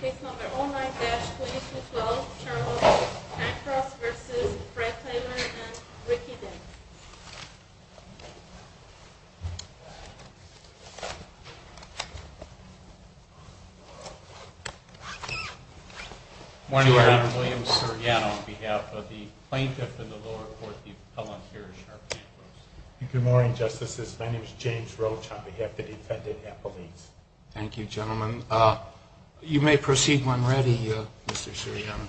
Case No. 09-2212, Charles Pankros v. Fred Tyler v. Ricky Dane Good morning, Your Honor. I'm William Suriano on behalf of the plaintiff in the lower court, the appellant here, Charles Pankros. Good morning, Justices. My name is James Roach on behalf of the defendant, Appalachians. Thank you, gentlemen. You may proceed when ready, Mr. Suriano.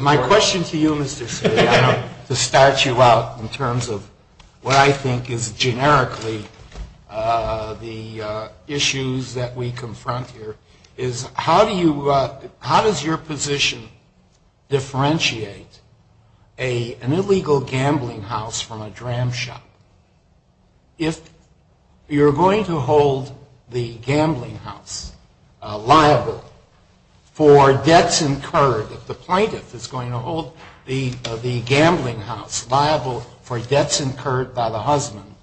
My question to you, Mr. Suriano, to start you out in terms of what I think is generically the issues that we confront here, is how does your position differentiate an illegal gambling house from a dram shop? If you're going to hold the gambling house liable for debts incurred, if the plaintiff is going to hold the gambling house liable for debts incurred by the husband,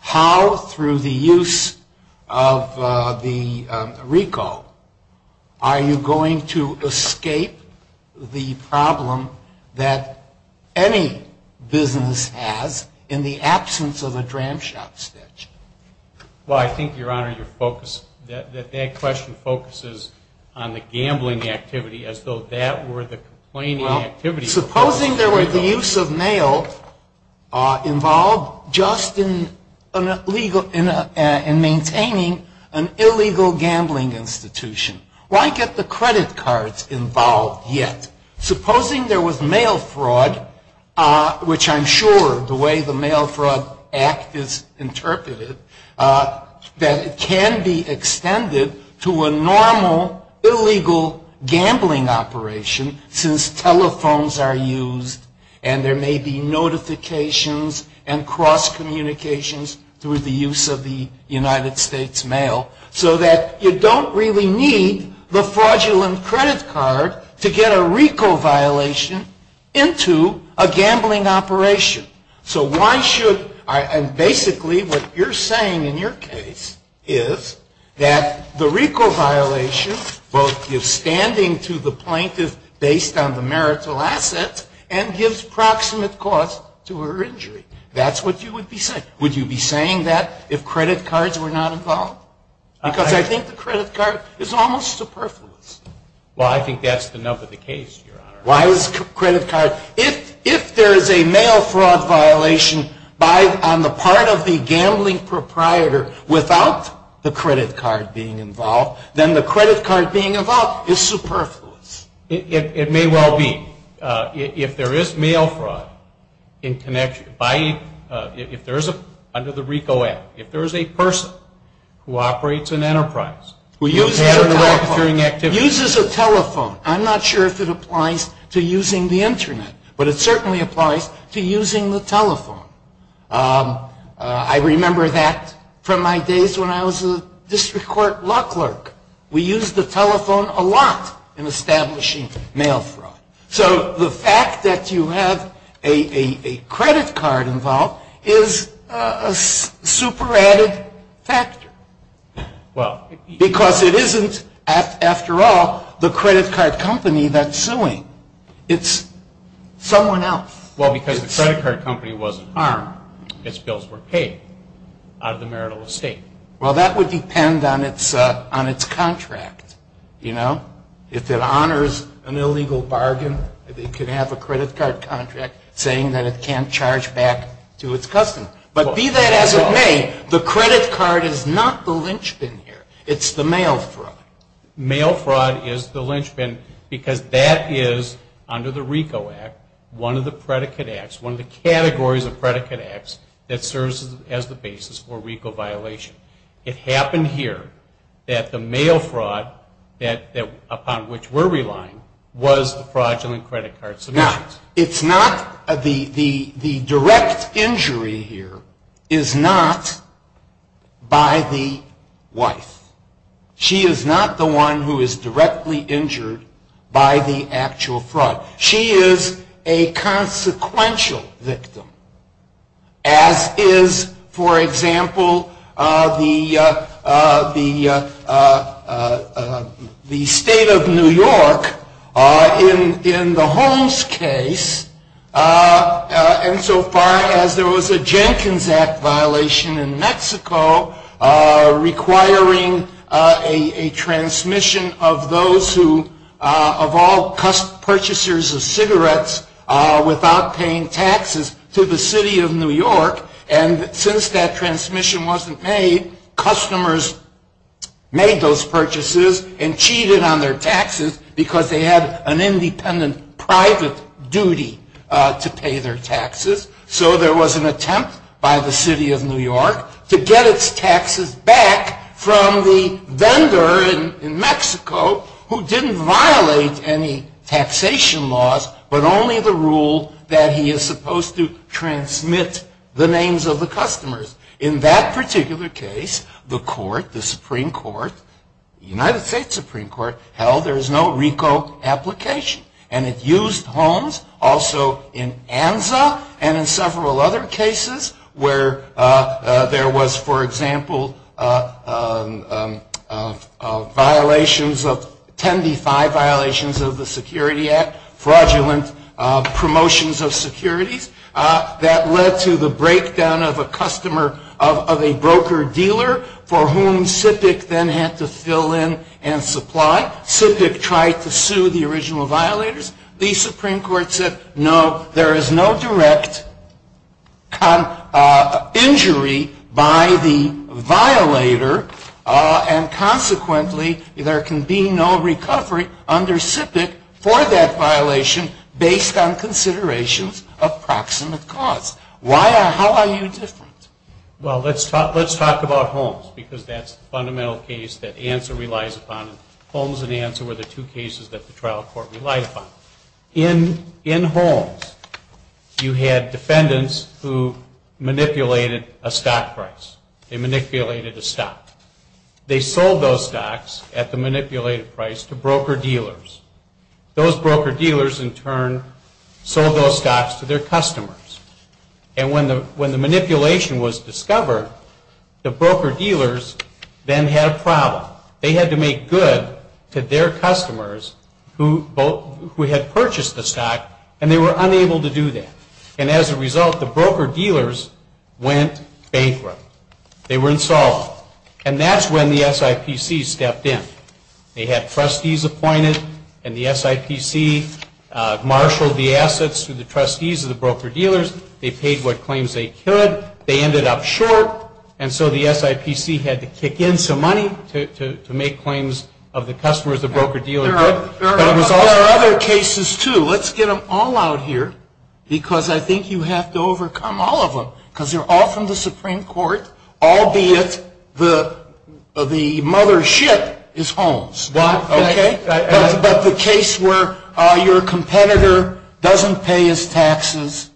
how, through the use of the RICO, are you going to escape the problem that any business has in the absence of a dram shop? Well, I think, Your Honor, that that question focuses on the gambling activity as though that were the complaining activity. Supposing there were the use of mail involved just in maintaining an illegal gambling institution, why get the credit cards involved yet? Supposing there was mail fraud, which I'm sure the way the Mail Fraud Act is interpreted, that it can be extended to a normal, gambling operation since telephones are used and there may be notifications and cross-communications through the use of the United States mail, so that you don't really need the fraudulent credit card to get a RICO violation into a gambling operation. So why should, and basically what you're saying in your case is that the RICO violation both gives standing to the plaintiff based on the marital assets and gives proximate cause to her injury. That's what you would be saying. Would you be saying that if credit cards were not involved? Because I think the credit card is almost superfluous. Well, I think that's the nub of the case, Your Honor. Why is credit card, if there is a mail fraud violation on the part of the gambling proprietor without the credit card being involved, then the credit card being involved is superfluous. It may well be. If there is mail fraud in connection, if there is under the RICO Act, if there is a person who operates an enterprise. Who uses a telephone. I'm not sure if it applies to using the Internet, but it certainly applies to using the telephone. I remember that from my days when I was a district court law clerk. We used the telephone a lot in establishing mail fraud. So the fact that you have a credit card involved is a super added factor. Because it isn't, after all, the credit card company that's suing. It's someone else. Well, because the credit card company wasn't harmed. Its bills were paid out of the marital estate. Well, that would depend on its contract. If it honors an illegal bargain, it could have a credit card contract saying that it can't charge back to its customer. But be that as it may, the credit card is not the linchpin here. It's the mail fraud. Mail fraud is the linchpin because that is, under the RICO Act, one of the predicate acts, one of the categories of predicate acts that serves as the basis for RICO violation. It happened here that the mail fraud upon which we're relying was the fraudulent credit card submissions. It's not. It's not. The direct injury here is not by the wife. She is not the one who is directly injured by the actual fraud. She is a consequential victim, as is, for example, the state of New York in the Holmes case, and so far as there was a Jenkins Act violation in Mexico requiring a transmission of those who, of all purchasers of cigarettes without paying taxes to the city of New York, and since that transmission wasn't made, customers made those purchases and cheated on their taxes because they had an independent private duty to pay their taxes. So there was an attempt by the city of New York to get its taxes back from the vendor in Mexico who didn't violate any taxation laws but only the rule that he is supposed to transmit the names of the customers. In that particular case, the court, the Supreme Court, the United States Supreme Court, held there is no RICO application, and it used Holmes also in ANZA and in several other cases where there was, for example, violations of, ten to five violations of the Security Act, fraudulent promotions of securities that led to the breakdown of a customer, of a broker-dealer for whom SIPC then had to fill in and supply. SIPC tried to sue the original violators. The Supreme Court said, no, there is no direct injury by the violator, and consequently there can be no recovery under SIPC for that violation based on considerations of proximate cause. How are you different? Well, let's talk about Holmes because that's the fundamental case that ANZA relies upon. Holmes and ANZA were the two cases that the trial court relied upon. In Holmes, you had defendants who manipulated a stock price. They manipulated a stock. They sold those stocks at the manipulated price to broker-dealers. Those broker-dealers, in turn, sold those stocks to their customers. And when the manipulation was discovered, the broker-dealers then had a problem. They had to make good to their customers who had purchased the stock, and they were unable to do that. And as a result, the broker-dealers went bankrupt. They were insolvent. And that's when the SIPC stepped in. They had trustees appointed, and the SIPC marshaled the assets to the trustees of the broker-dealers. They paid what claims they could. They ended up short, and so the SIPC had to kick in some money to make claims of the customers the broker-dealer did. There are other cases, too. Let's get them all out here because I think you have to overcome all of them because they're all from the Supreme Court, albeit the mother ship is Holmes, okay? But the case where your competitor doesn't pay his taxes.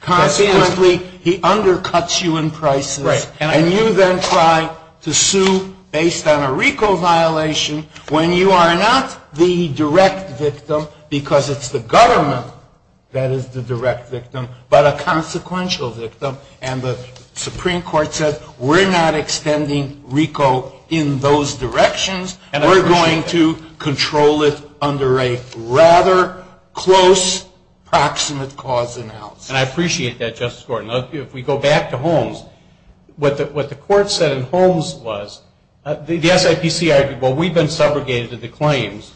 Consequently, he undercuts you in prices, and you then try to sue based on a RICO violation when you are not the direct victim because it's the government that is the direct victim but a consequential victim. And the Supreme Court said, we're not extending RICO in those directions. We're going to control it under a rather close proximate cause in house. And I appreciate that, Justice Gordon. If we go back to Holmes, what the court said in Holmes was the SIPC argued, well, we've been subrogated to the claims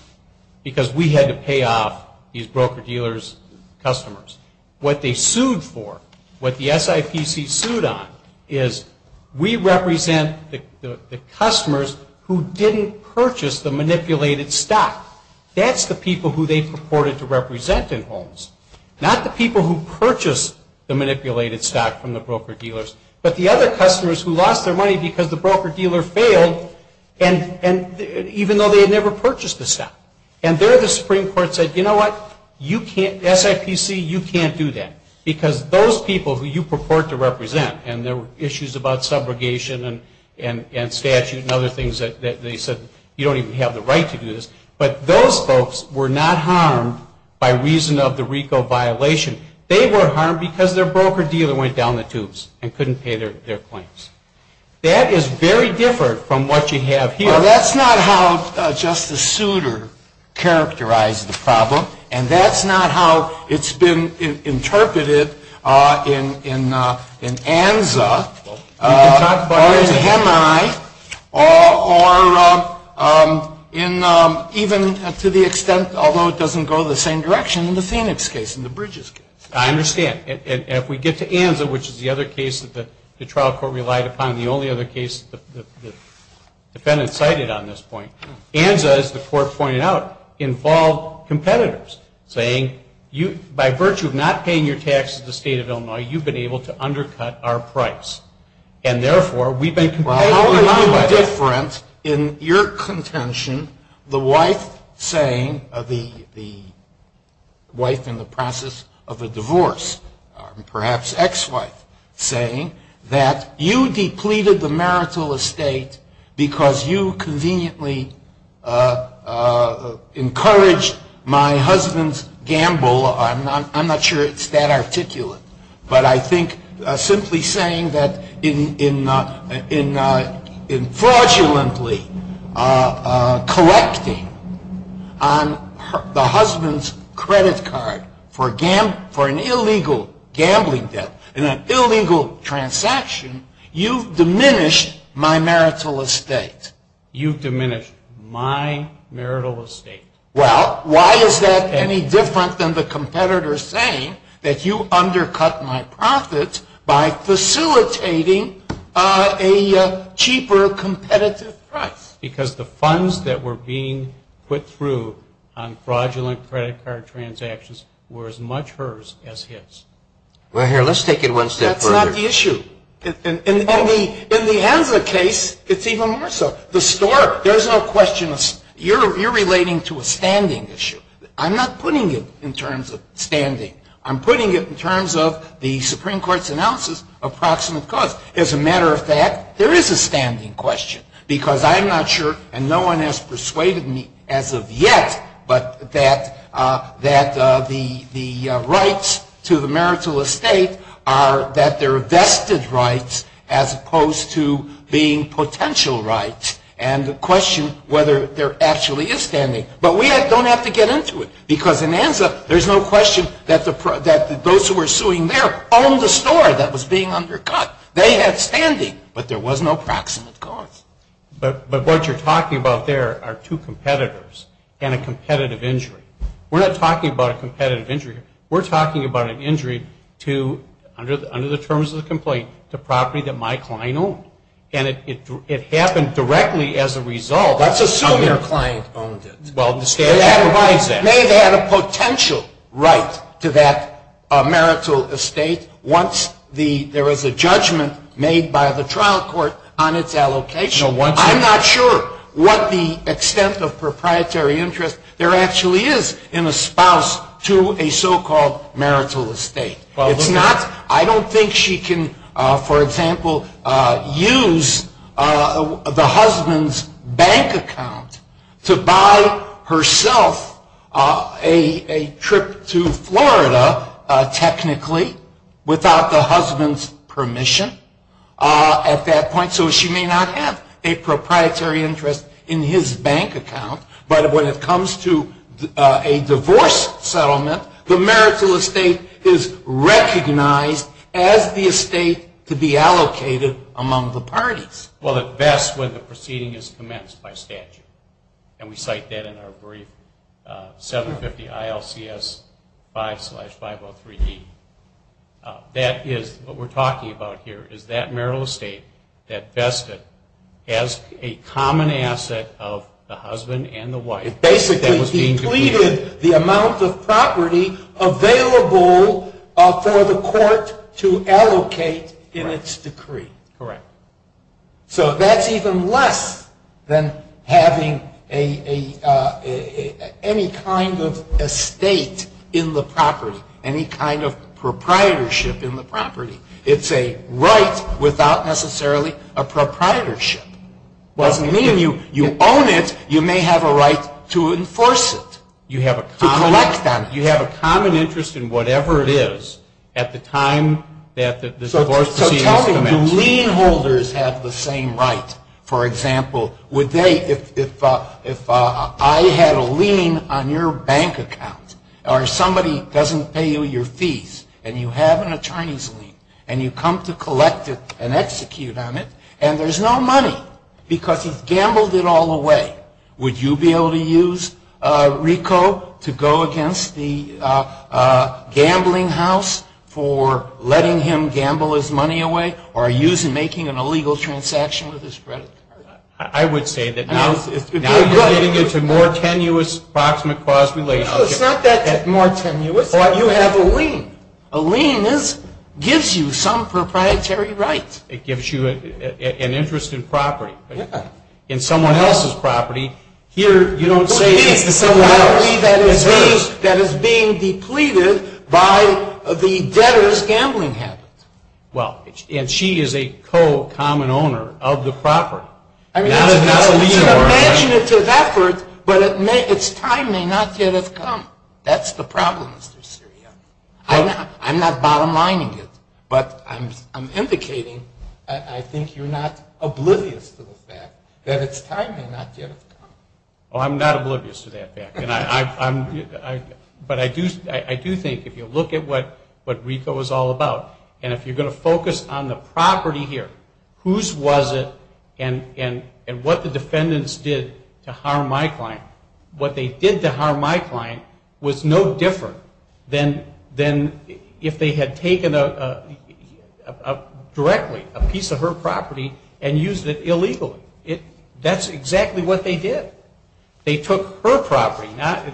because we had to pay off these broker-dealers' customers. What they sued for, what the SIPC sued on, is we represent the customers who didn't purchase the manipulated stock. That's the people who they purported to represent in Holmes, not the people who purchased the manipulated stock from the broker-dealers, but the other customers who lost their money because the broker-dealer failed, even though they had never purchased the stock. And there the Supreme Court said, you know what? SIPC, you can't do that because those people who you purport to represent, and there were issues about subrogation and statute and other things that they said you don't even have the right to do this, but those folks were not harmed by reason of the RICO violation. They were harmed because their broker-dealer went down the tubes and couldn't pay their claims. That is very different from what you have here. So that's not how Justice Souter characterized the problem, and that's not how it's been interpreted in ANZA or in HEMI or even to the extent, although it doesn't go the same direction, in the Phoenix case, in the Bridges case. I understand. And if we get to ANZA, which is the other case that the trial court relied upon, the only other case that the defendant cited on this point, ANZA, as the court pointed out, involved competitors saying, by virtue of not paying your taxes to the State of Illinois, you've been able to undercut our price. And therefore, we've been competitive. Well, how are you different in your contention, the wife saying, the wife in the process of a divorce, perhaps ex-wife, saying that you depleted the marital estate because you conveniently encouraged my husband's gamble. I'm not sure it's that articulate. But I think simply saying that in fraudulently collecting on the husband's credit card for an illegal gambling debt in an illegal transaction, you've diminished my marital estate. You've diminished my marital estate. Well, why is that any different than the competitor saying that you undercut my profits by facilitating a cheaper competitive price? Because the funds that were being put through on fraudulent credit card transactions were as much hers as his. Well, here, let's take it one step further. That's not the issue. In the ANZA case, it's even more so. There's no question. You're relating to a standing issue. I'm not putting it in terms of standing. I'm putting it in terms of the Supreme Court's analysis of proximate cause. As a matter of fact, there is a standing question. Because I'm not sure, and no one has persuaded me as of yet, but that the rights to the marital estate are that they're vested rights as opposed to being potential rights and the question whether there actually is standing. But we don't have to get into it. Because in ANZA, there's no question that those who were suing there owned the store that was being undercut. They had standing, but there was no proximate cause. But what you're talking about there are two competitors and a competitive injury. We're not talking about a competitive injury. We're talking about an injury to, under the terms of the complaint, the property that my client owned. And it happened directly as a result. Let's assume your client owned it. Well, the state provides that. May have had a potential right to that marital estate once there was a judgment made by the trial court on its allocation. I'm not sure what the extent of proprietary interest there actually is in a spouse to a so-called marital estate. I don't think she can, for example, use the husband's bank account to buy herself a trip to Florida, technically, without the husband's permission at that point. So she may not have a proprietary interest in his bank account, but when it comes to a divorce settlement, the marital estate is recognized as the estate to be allocated among the parties. Well, that's when the proceeding is commenced by statute. And we cite that in our brief, 750 ILCS 5-503D. What we're talking about here is that marital estate that vested as a common asset of the husband and the wife. Basically, he pleaded the amount of property available for the court to allocate in its decree. Correct. So that's even less than having any kind of estate in the property, any kind of proprietorship in the property. It's a right without necessarily a proprietorship. Doesn't mean you own it, you may have a right to enforce it, to collect on it. You have a common interest in whatever it is at the time that the divorce proceeding is commenced. I'm telling you, lien holders have the same right. For example, if I had a lien on your bank account, or somebody doesn't pay you your fees, and you have a Chinese lien, and you come to collect it and execute on it, and there's no money because he's gambled it all away, would you be able to use RICO to go against the gambling house for letting him gamble his money away, or are you making an illegal transaction with his credit card? I would say that now you're getting into more tenuous approximate cause relationship. It's not that more tenuous. You have a lien. A lien gives you some proprietary right. It gives you an interest in property. In someone else's property, here you don't say it's someone else. It's property that is being depleted by the debtor's gambling habits. Well, and she is a co-common owner of the property. It's an imaginative effort, but its time may not yet have come. That's the problem, Mr. Siria. I'm not bottom lining it, but I'm indicating I think you're not oblivious to the fact that its time may not yet have come. Well, I'm not oblivious to that fact, but I do think if you look at what RICO is all about, and if you're going to focus on the property here, whose was it, and what the defendants did to harm my client, what they did to harm my client was no different than if they had taken directly a piece of her property and used it illegally. That's exactly what they did. They took her property.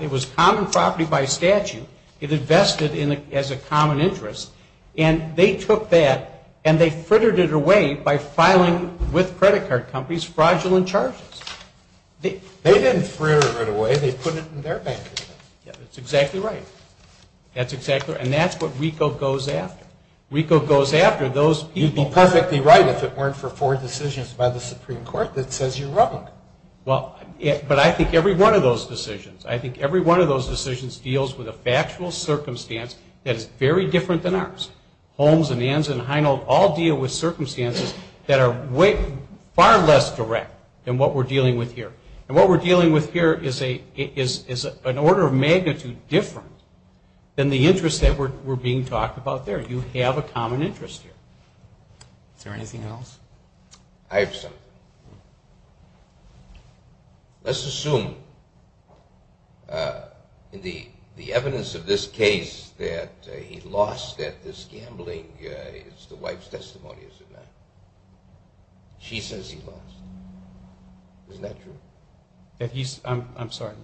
It was common property by statute. It invested as a common interest, and they took that, and they frittered it away by filing with credit card companies fraudulent charges. They didn't fritter it away. They put it in their bank account. Yeah, that's exactly right. That's exactly right, and that's what RICO goes after. RICO goes after those people. You'd be perfectly right if it weren't for four decisions by the Supreme Court that says you're wrong. Well, but I think every one of those decisions, I think every one of those decisions deals with a factual circumstance that is very different than ours. Holmes and Anza and Heinold all deal with circumstances that are far less direct than what we're dealing with here, and what we're dealing with here is an order of magnitude different than the interests that were being talked about there. You have a common interest here. Is there anything else? I have something. Let's assume in the evidence of this case that he lost at this gambling is the wife's testimony, isn't it? She says he lost. Isn't that true? I'm sorry.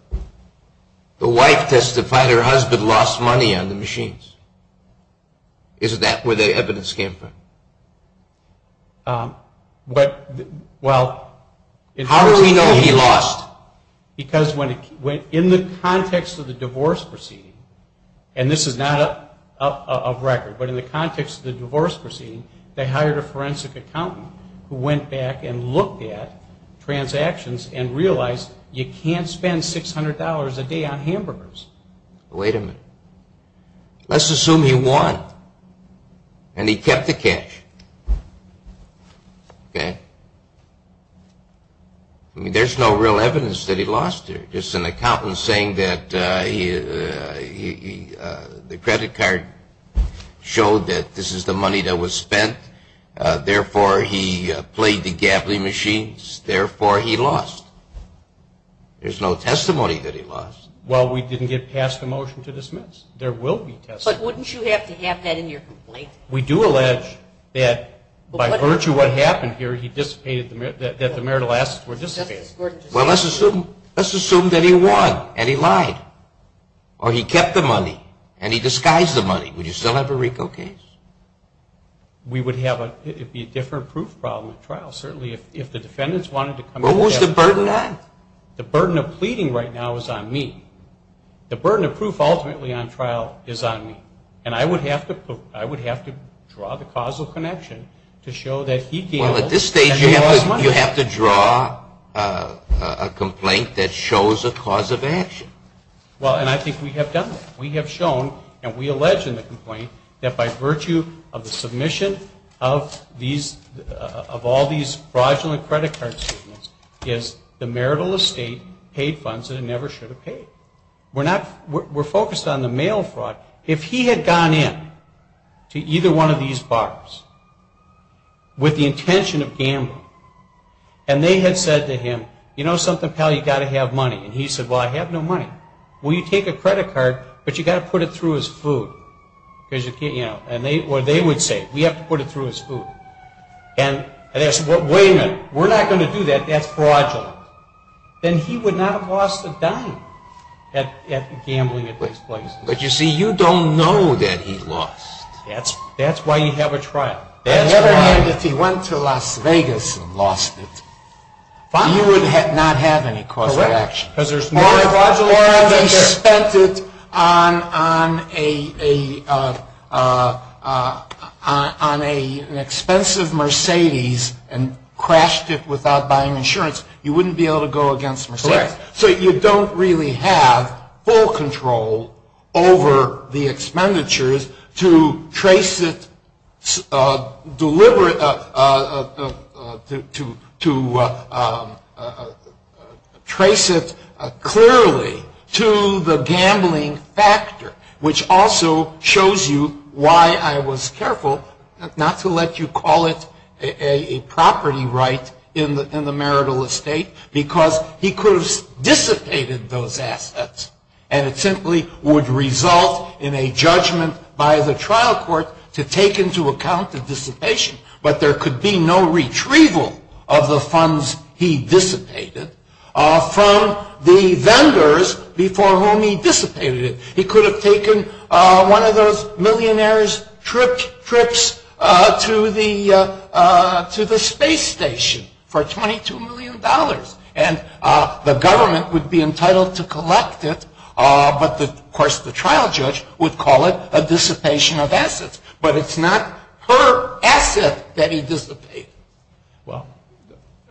The wife testified her husband lost money on the machines. Is that where the evidence came from? How do we know he lost? Because in the context of the divorce proceeding, and this is not a record, but in the context of the divorce proceeding, they hired a forensic accountant who went back and looked at transactions and realized you can't spend $600 a day on hamburgers. Wait a minute. Let's assume he won and he kept the cash, okay? I mean, there's no real evidence that he lost here. Just an accountant saying that the credit card showed that this is the money that was spent, therefore, he played the gambling machines, therefore, he lost. There's no testimony that he lost. Well, we didn't get past the motion to dismiss. There will be testimony. But wouldn't you have to have that in your complaint? We do allege that by virtue of what happened here, that the marital assets were dissipated. Well, let's assume that he won and he lied or he kept the money and he disguised the money. Would you still have a RICO case? We would have a different proof problem at trial, certainly, if the defendants wanted to come in. What was the burden on? The burden of pleading right now is on me. The burden of proof ultimately on trial is on me. And I would have to draw the causal connection to show that he gambled and he lost money. Well, at this stage, you have to draw a complaint that shows a cause of action. Well, and I think we have done that. We have shown and we allege in the complaint that by virtue of the submission of all these fraudulent credit card statements is the marital estate paid funds that it never should have paid. We're focused on the mail fraud. If he had gone in to either one of these bars with the intention of gambling and they had said to him, you know something, pal, you've got to have money. And he said, well, I have no money. Well, you take a credit card, but you've got to put it through his food. Or they would say, we have to put it through his food. And they say, wait a minute, we're not going to do that. That's fraudulent. Then he would not have lost a dime at gambling at these places. But you see, you don't know that he lost. That's why you have a trial. Never mind if he went to Las Vegas and lost it. He would not have any cause of action. Or if he spent it on an expensive Mercedes and crashed it without buying insurance, you wouldn't be able to go against Mercedes. So you don't really have full control over the expenditures to trace it clearly to the gambling factor, which also shows you why I was careful not to let you call it a property right in the marital estate, because he could have dissipated those assets. And it simply would result in a judgment by the trial court to take into account the dissipation. But there could be no retrieval of the funds he dissipated from the vendors before whom he dissipated it. He could have taken one of those millionaire's trips to the space station for $22 million. And the government would be entitled to collect it. But, of course, the trial judge would call it a dissipation of assets. But it's not her asset that he dissipated. Well,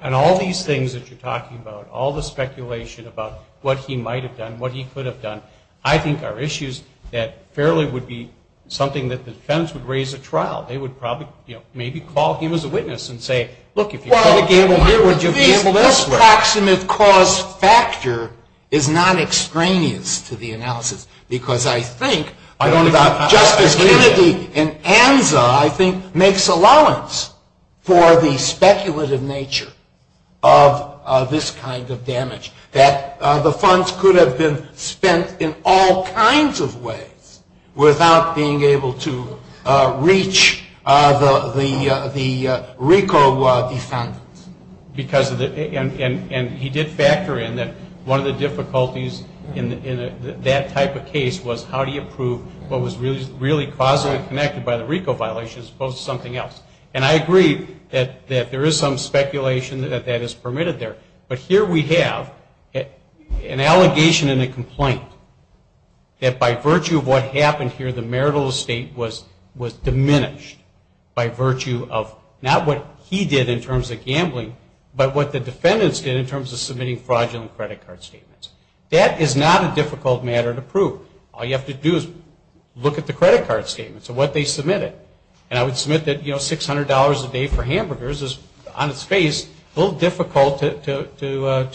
and all these things that you're talking about, all the speculation about what he might have done, what he could have done, I think are issues that fairly would be something that the defense would raise at trial. They would probably, you know, maybe call him as a witness and say, look, if you call the gamble here, would you gamble this way? Well, one of the things, this proximate cause factor is not extraneous to the analysis, because I think, I don't know about Justice Kennedy and ANZA, I think, makes allowance for the speculative nature of this kind of damage, that the funds could have been spent in all kinds of ways without being able to reach the RICO defendant. And he did factor in that one of the difficulties in that type of case was, how do you prove what was really causally connected by the RICO violation as opposed to something else? And I agree that there is some speculation that that is permitted there. But here we have an allegation and a complaint that by virtue of what happened here, the marital estate was diminished by virtue of not what he did in terms of gambling, but what the defendants did in terms of submitting fraudulent credit card statements. That is not a difficult matter to prove. All you have to do is look at the credit card statements and what they submitted. And I would submit that, you know, $600 a day for hamburgers is, on its face, a little difficult to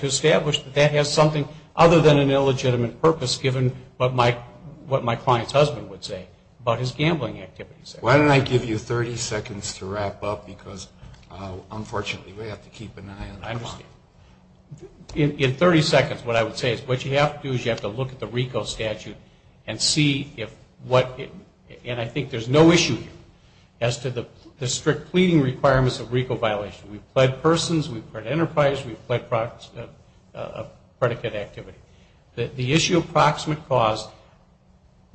establish that that has something other than an illegitimate purpose, given what my client's husband would say about his gambling activities. Why don't I give you 30 seconds to wrap up, because, unfortunately, we have to keep an eye on the client. In 30 seconds, what I would say is, what you have to do is you have to look at the RICO statute and see if what, and I think there's no issue here as to the strict pleading requirements of RICO violation. We've pled persons, we've pled enterprise, we've pled predicate activity. The issue of proximate cause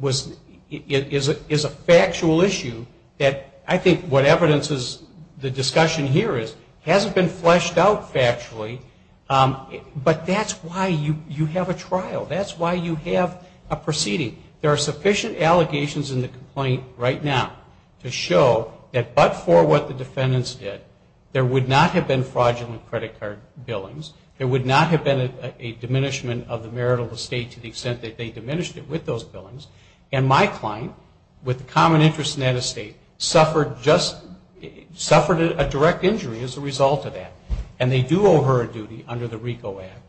is a factual issue that I think what evidence is the discussion here is, hasn't been fleshed out factually, but that's why you have a trial. That's why you have a proceeding. There are sufficient allegations in the complaint right now to show that but for what the defendants did, there would not have been fraudulent credit card billings, there would not have been a diminishment of the marital estate to the extent that they diminished it with those billings, and my client, with a common interest in that estate, suffered a direct injury as a result of that. And they do owe her a duty under the RICO Act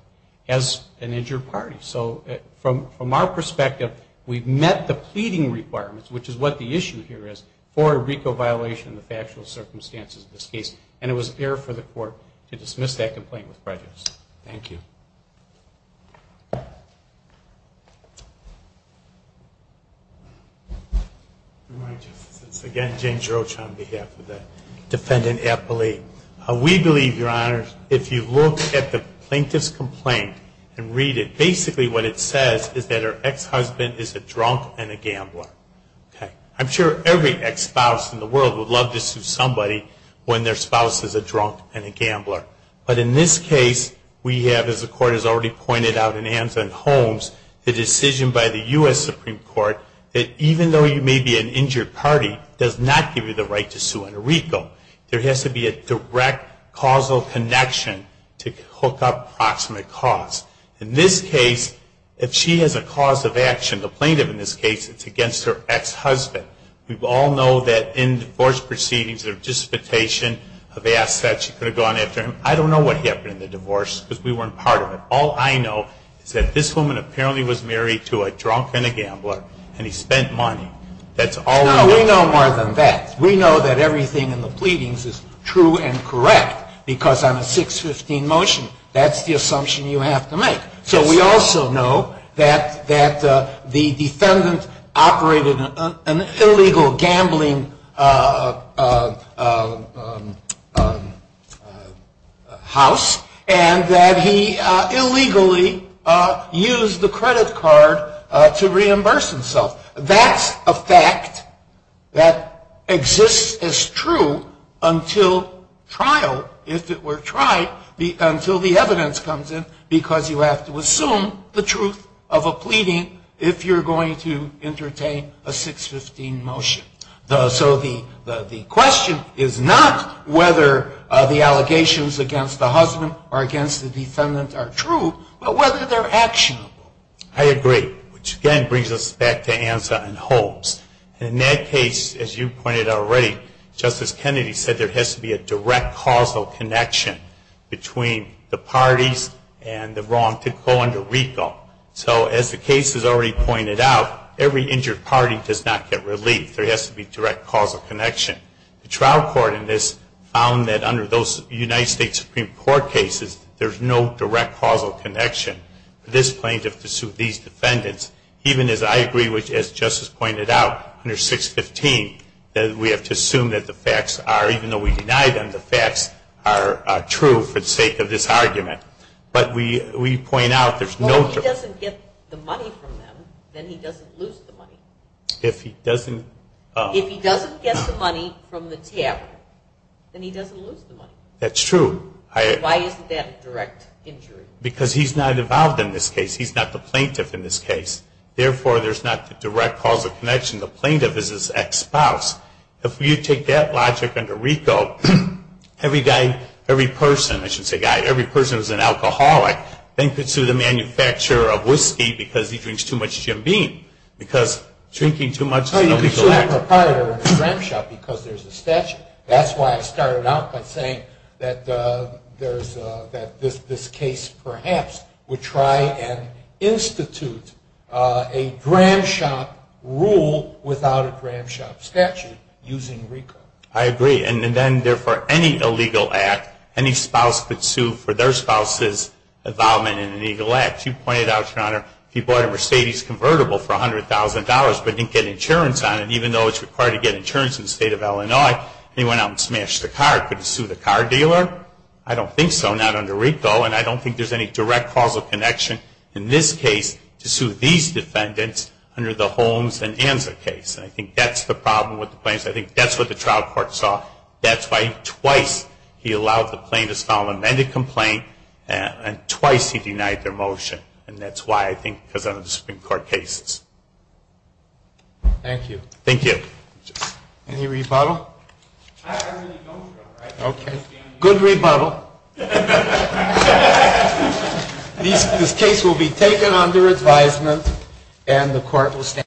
as an injured party. So from our perspective, we've met the pleading requirements, which is what the issue here is, for a RICO violation in the factual circumstances of this case, and it was fair for the court to dismiss that complaint with prejudice. Thank you. Good morning, Justice. It's again James Roach on behalf of the defendant appellee. We believe, Your Honor, if you look at the plaintiff's complaint and read it, basically what it says is that her ex-husband is a drunk and a gambler. I'm sure every ex-spouse in the world would love to sue somebody when their spouse is a drunk and a gambler. But in this case, we have, as the Court has already pointed out in Anza and Holmes, the decision by the U.S. Supreme Court that even though you may be an injured party, does not give you the right to sue on a RICO. There has to be a direct causal connection to hook up proximate cause. In this case, if she has a cause of action, the plaintiff in this case, it's against her ex-husband. We all know that in divorce proceedings, there's a dissipation of assets. She could have gone after him. I don't know what happened in the divorce because we weren't part of it. All I know is that this woman apparently was married to a drunk and a gambler, and he spent money. That's all we know. No, we know more than that. We know that everything in the pleadings is true and correct because on a 615 motion, that's the assumption you have to make. So we also know that the defendant operated an illegal gambling house and that he illegally used the credit card to reimburse himself. That's a fact that exists as true until trial, if it were tried, until the evidence comes in because you have to assume the truth of a pleading if you're going to entertain a 615 motion. So the question is not whether the allegations against the husband or against the defendant are true, but whether they're actionable. I agree, which again brings us back to Anza and Holmes. In that case, as you pointed out already, Justice Kennedy said there has to be a direct causal connection between the parties and the wrong to go under RICO. So as the case has already pointed out, every injured party does not get relief. There has to be direct causal connection. The trial court in this found that under those United States Supreme Court cases, there's no direct causal connection. This plaintiff, these defendants, even as I agree, which as Justice pointed out, under 615, we have to assume that the facts are, even though we deny them, the facts are true for the sake of this argument. But we point out there's no... Well, if he doesn't get the money from them, then he doesn't lose the money. If he doesn't... If he doesn't get the money from the tab, then he doesn't lose the money. That's true. Why isn't that a direct injury? Because he's not involved in this case. He's not the plaintiff in this case. Therefore, there's not the direct causal connection. The plaintiff is his ex-spouse. If you take that logic under RICO, every guy, every person, I shouldn't say guy, every person who's an alcoholic then could sue the manufacturer of whiskey because he drinks too much Jim Beam. Because drinking too much... Or you could sue the proprietor of a cram shop because there's a statute. That's why I started out by saying that this case perhaps would try and institute a cram shop rule without a cram shop statute using RICO. I agree. And then, therefore, any illegal act, any spouse could sue for their spouse's involvement in an illegal act. You pointed out, Your Honor, he bought a Mercedes convertible for $100,000 but didn't get insurance on it, even though it's required to get insurance in the state of Illinois, and he went out and smashed the car. Could he sue the car dealer? I don't think so, not under RICO. And I don't think there's any direct causal connection in this case to sue these defendants under the Holmes and Anza case. And I think that's the problem with the plaintiffs. I think that's what the trial court saw. That's why twice he allowed the plaintiffs to file an amended complaint and twice he denied their motion. And that's why I think because of the Supreme Court cases. Thank you. Thank you. Any rebuttal? I really don't, Your Honor. Okay. Good rebuttal. This case will be taken under advisement and the court will stand adjourned.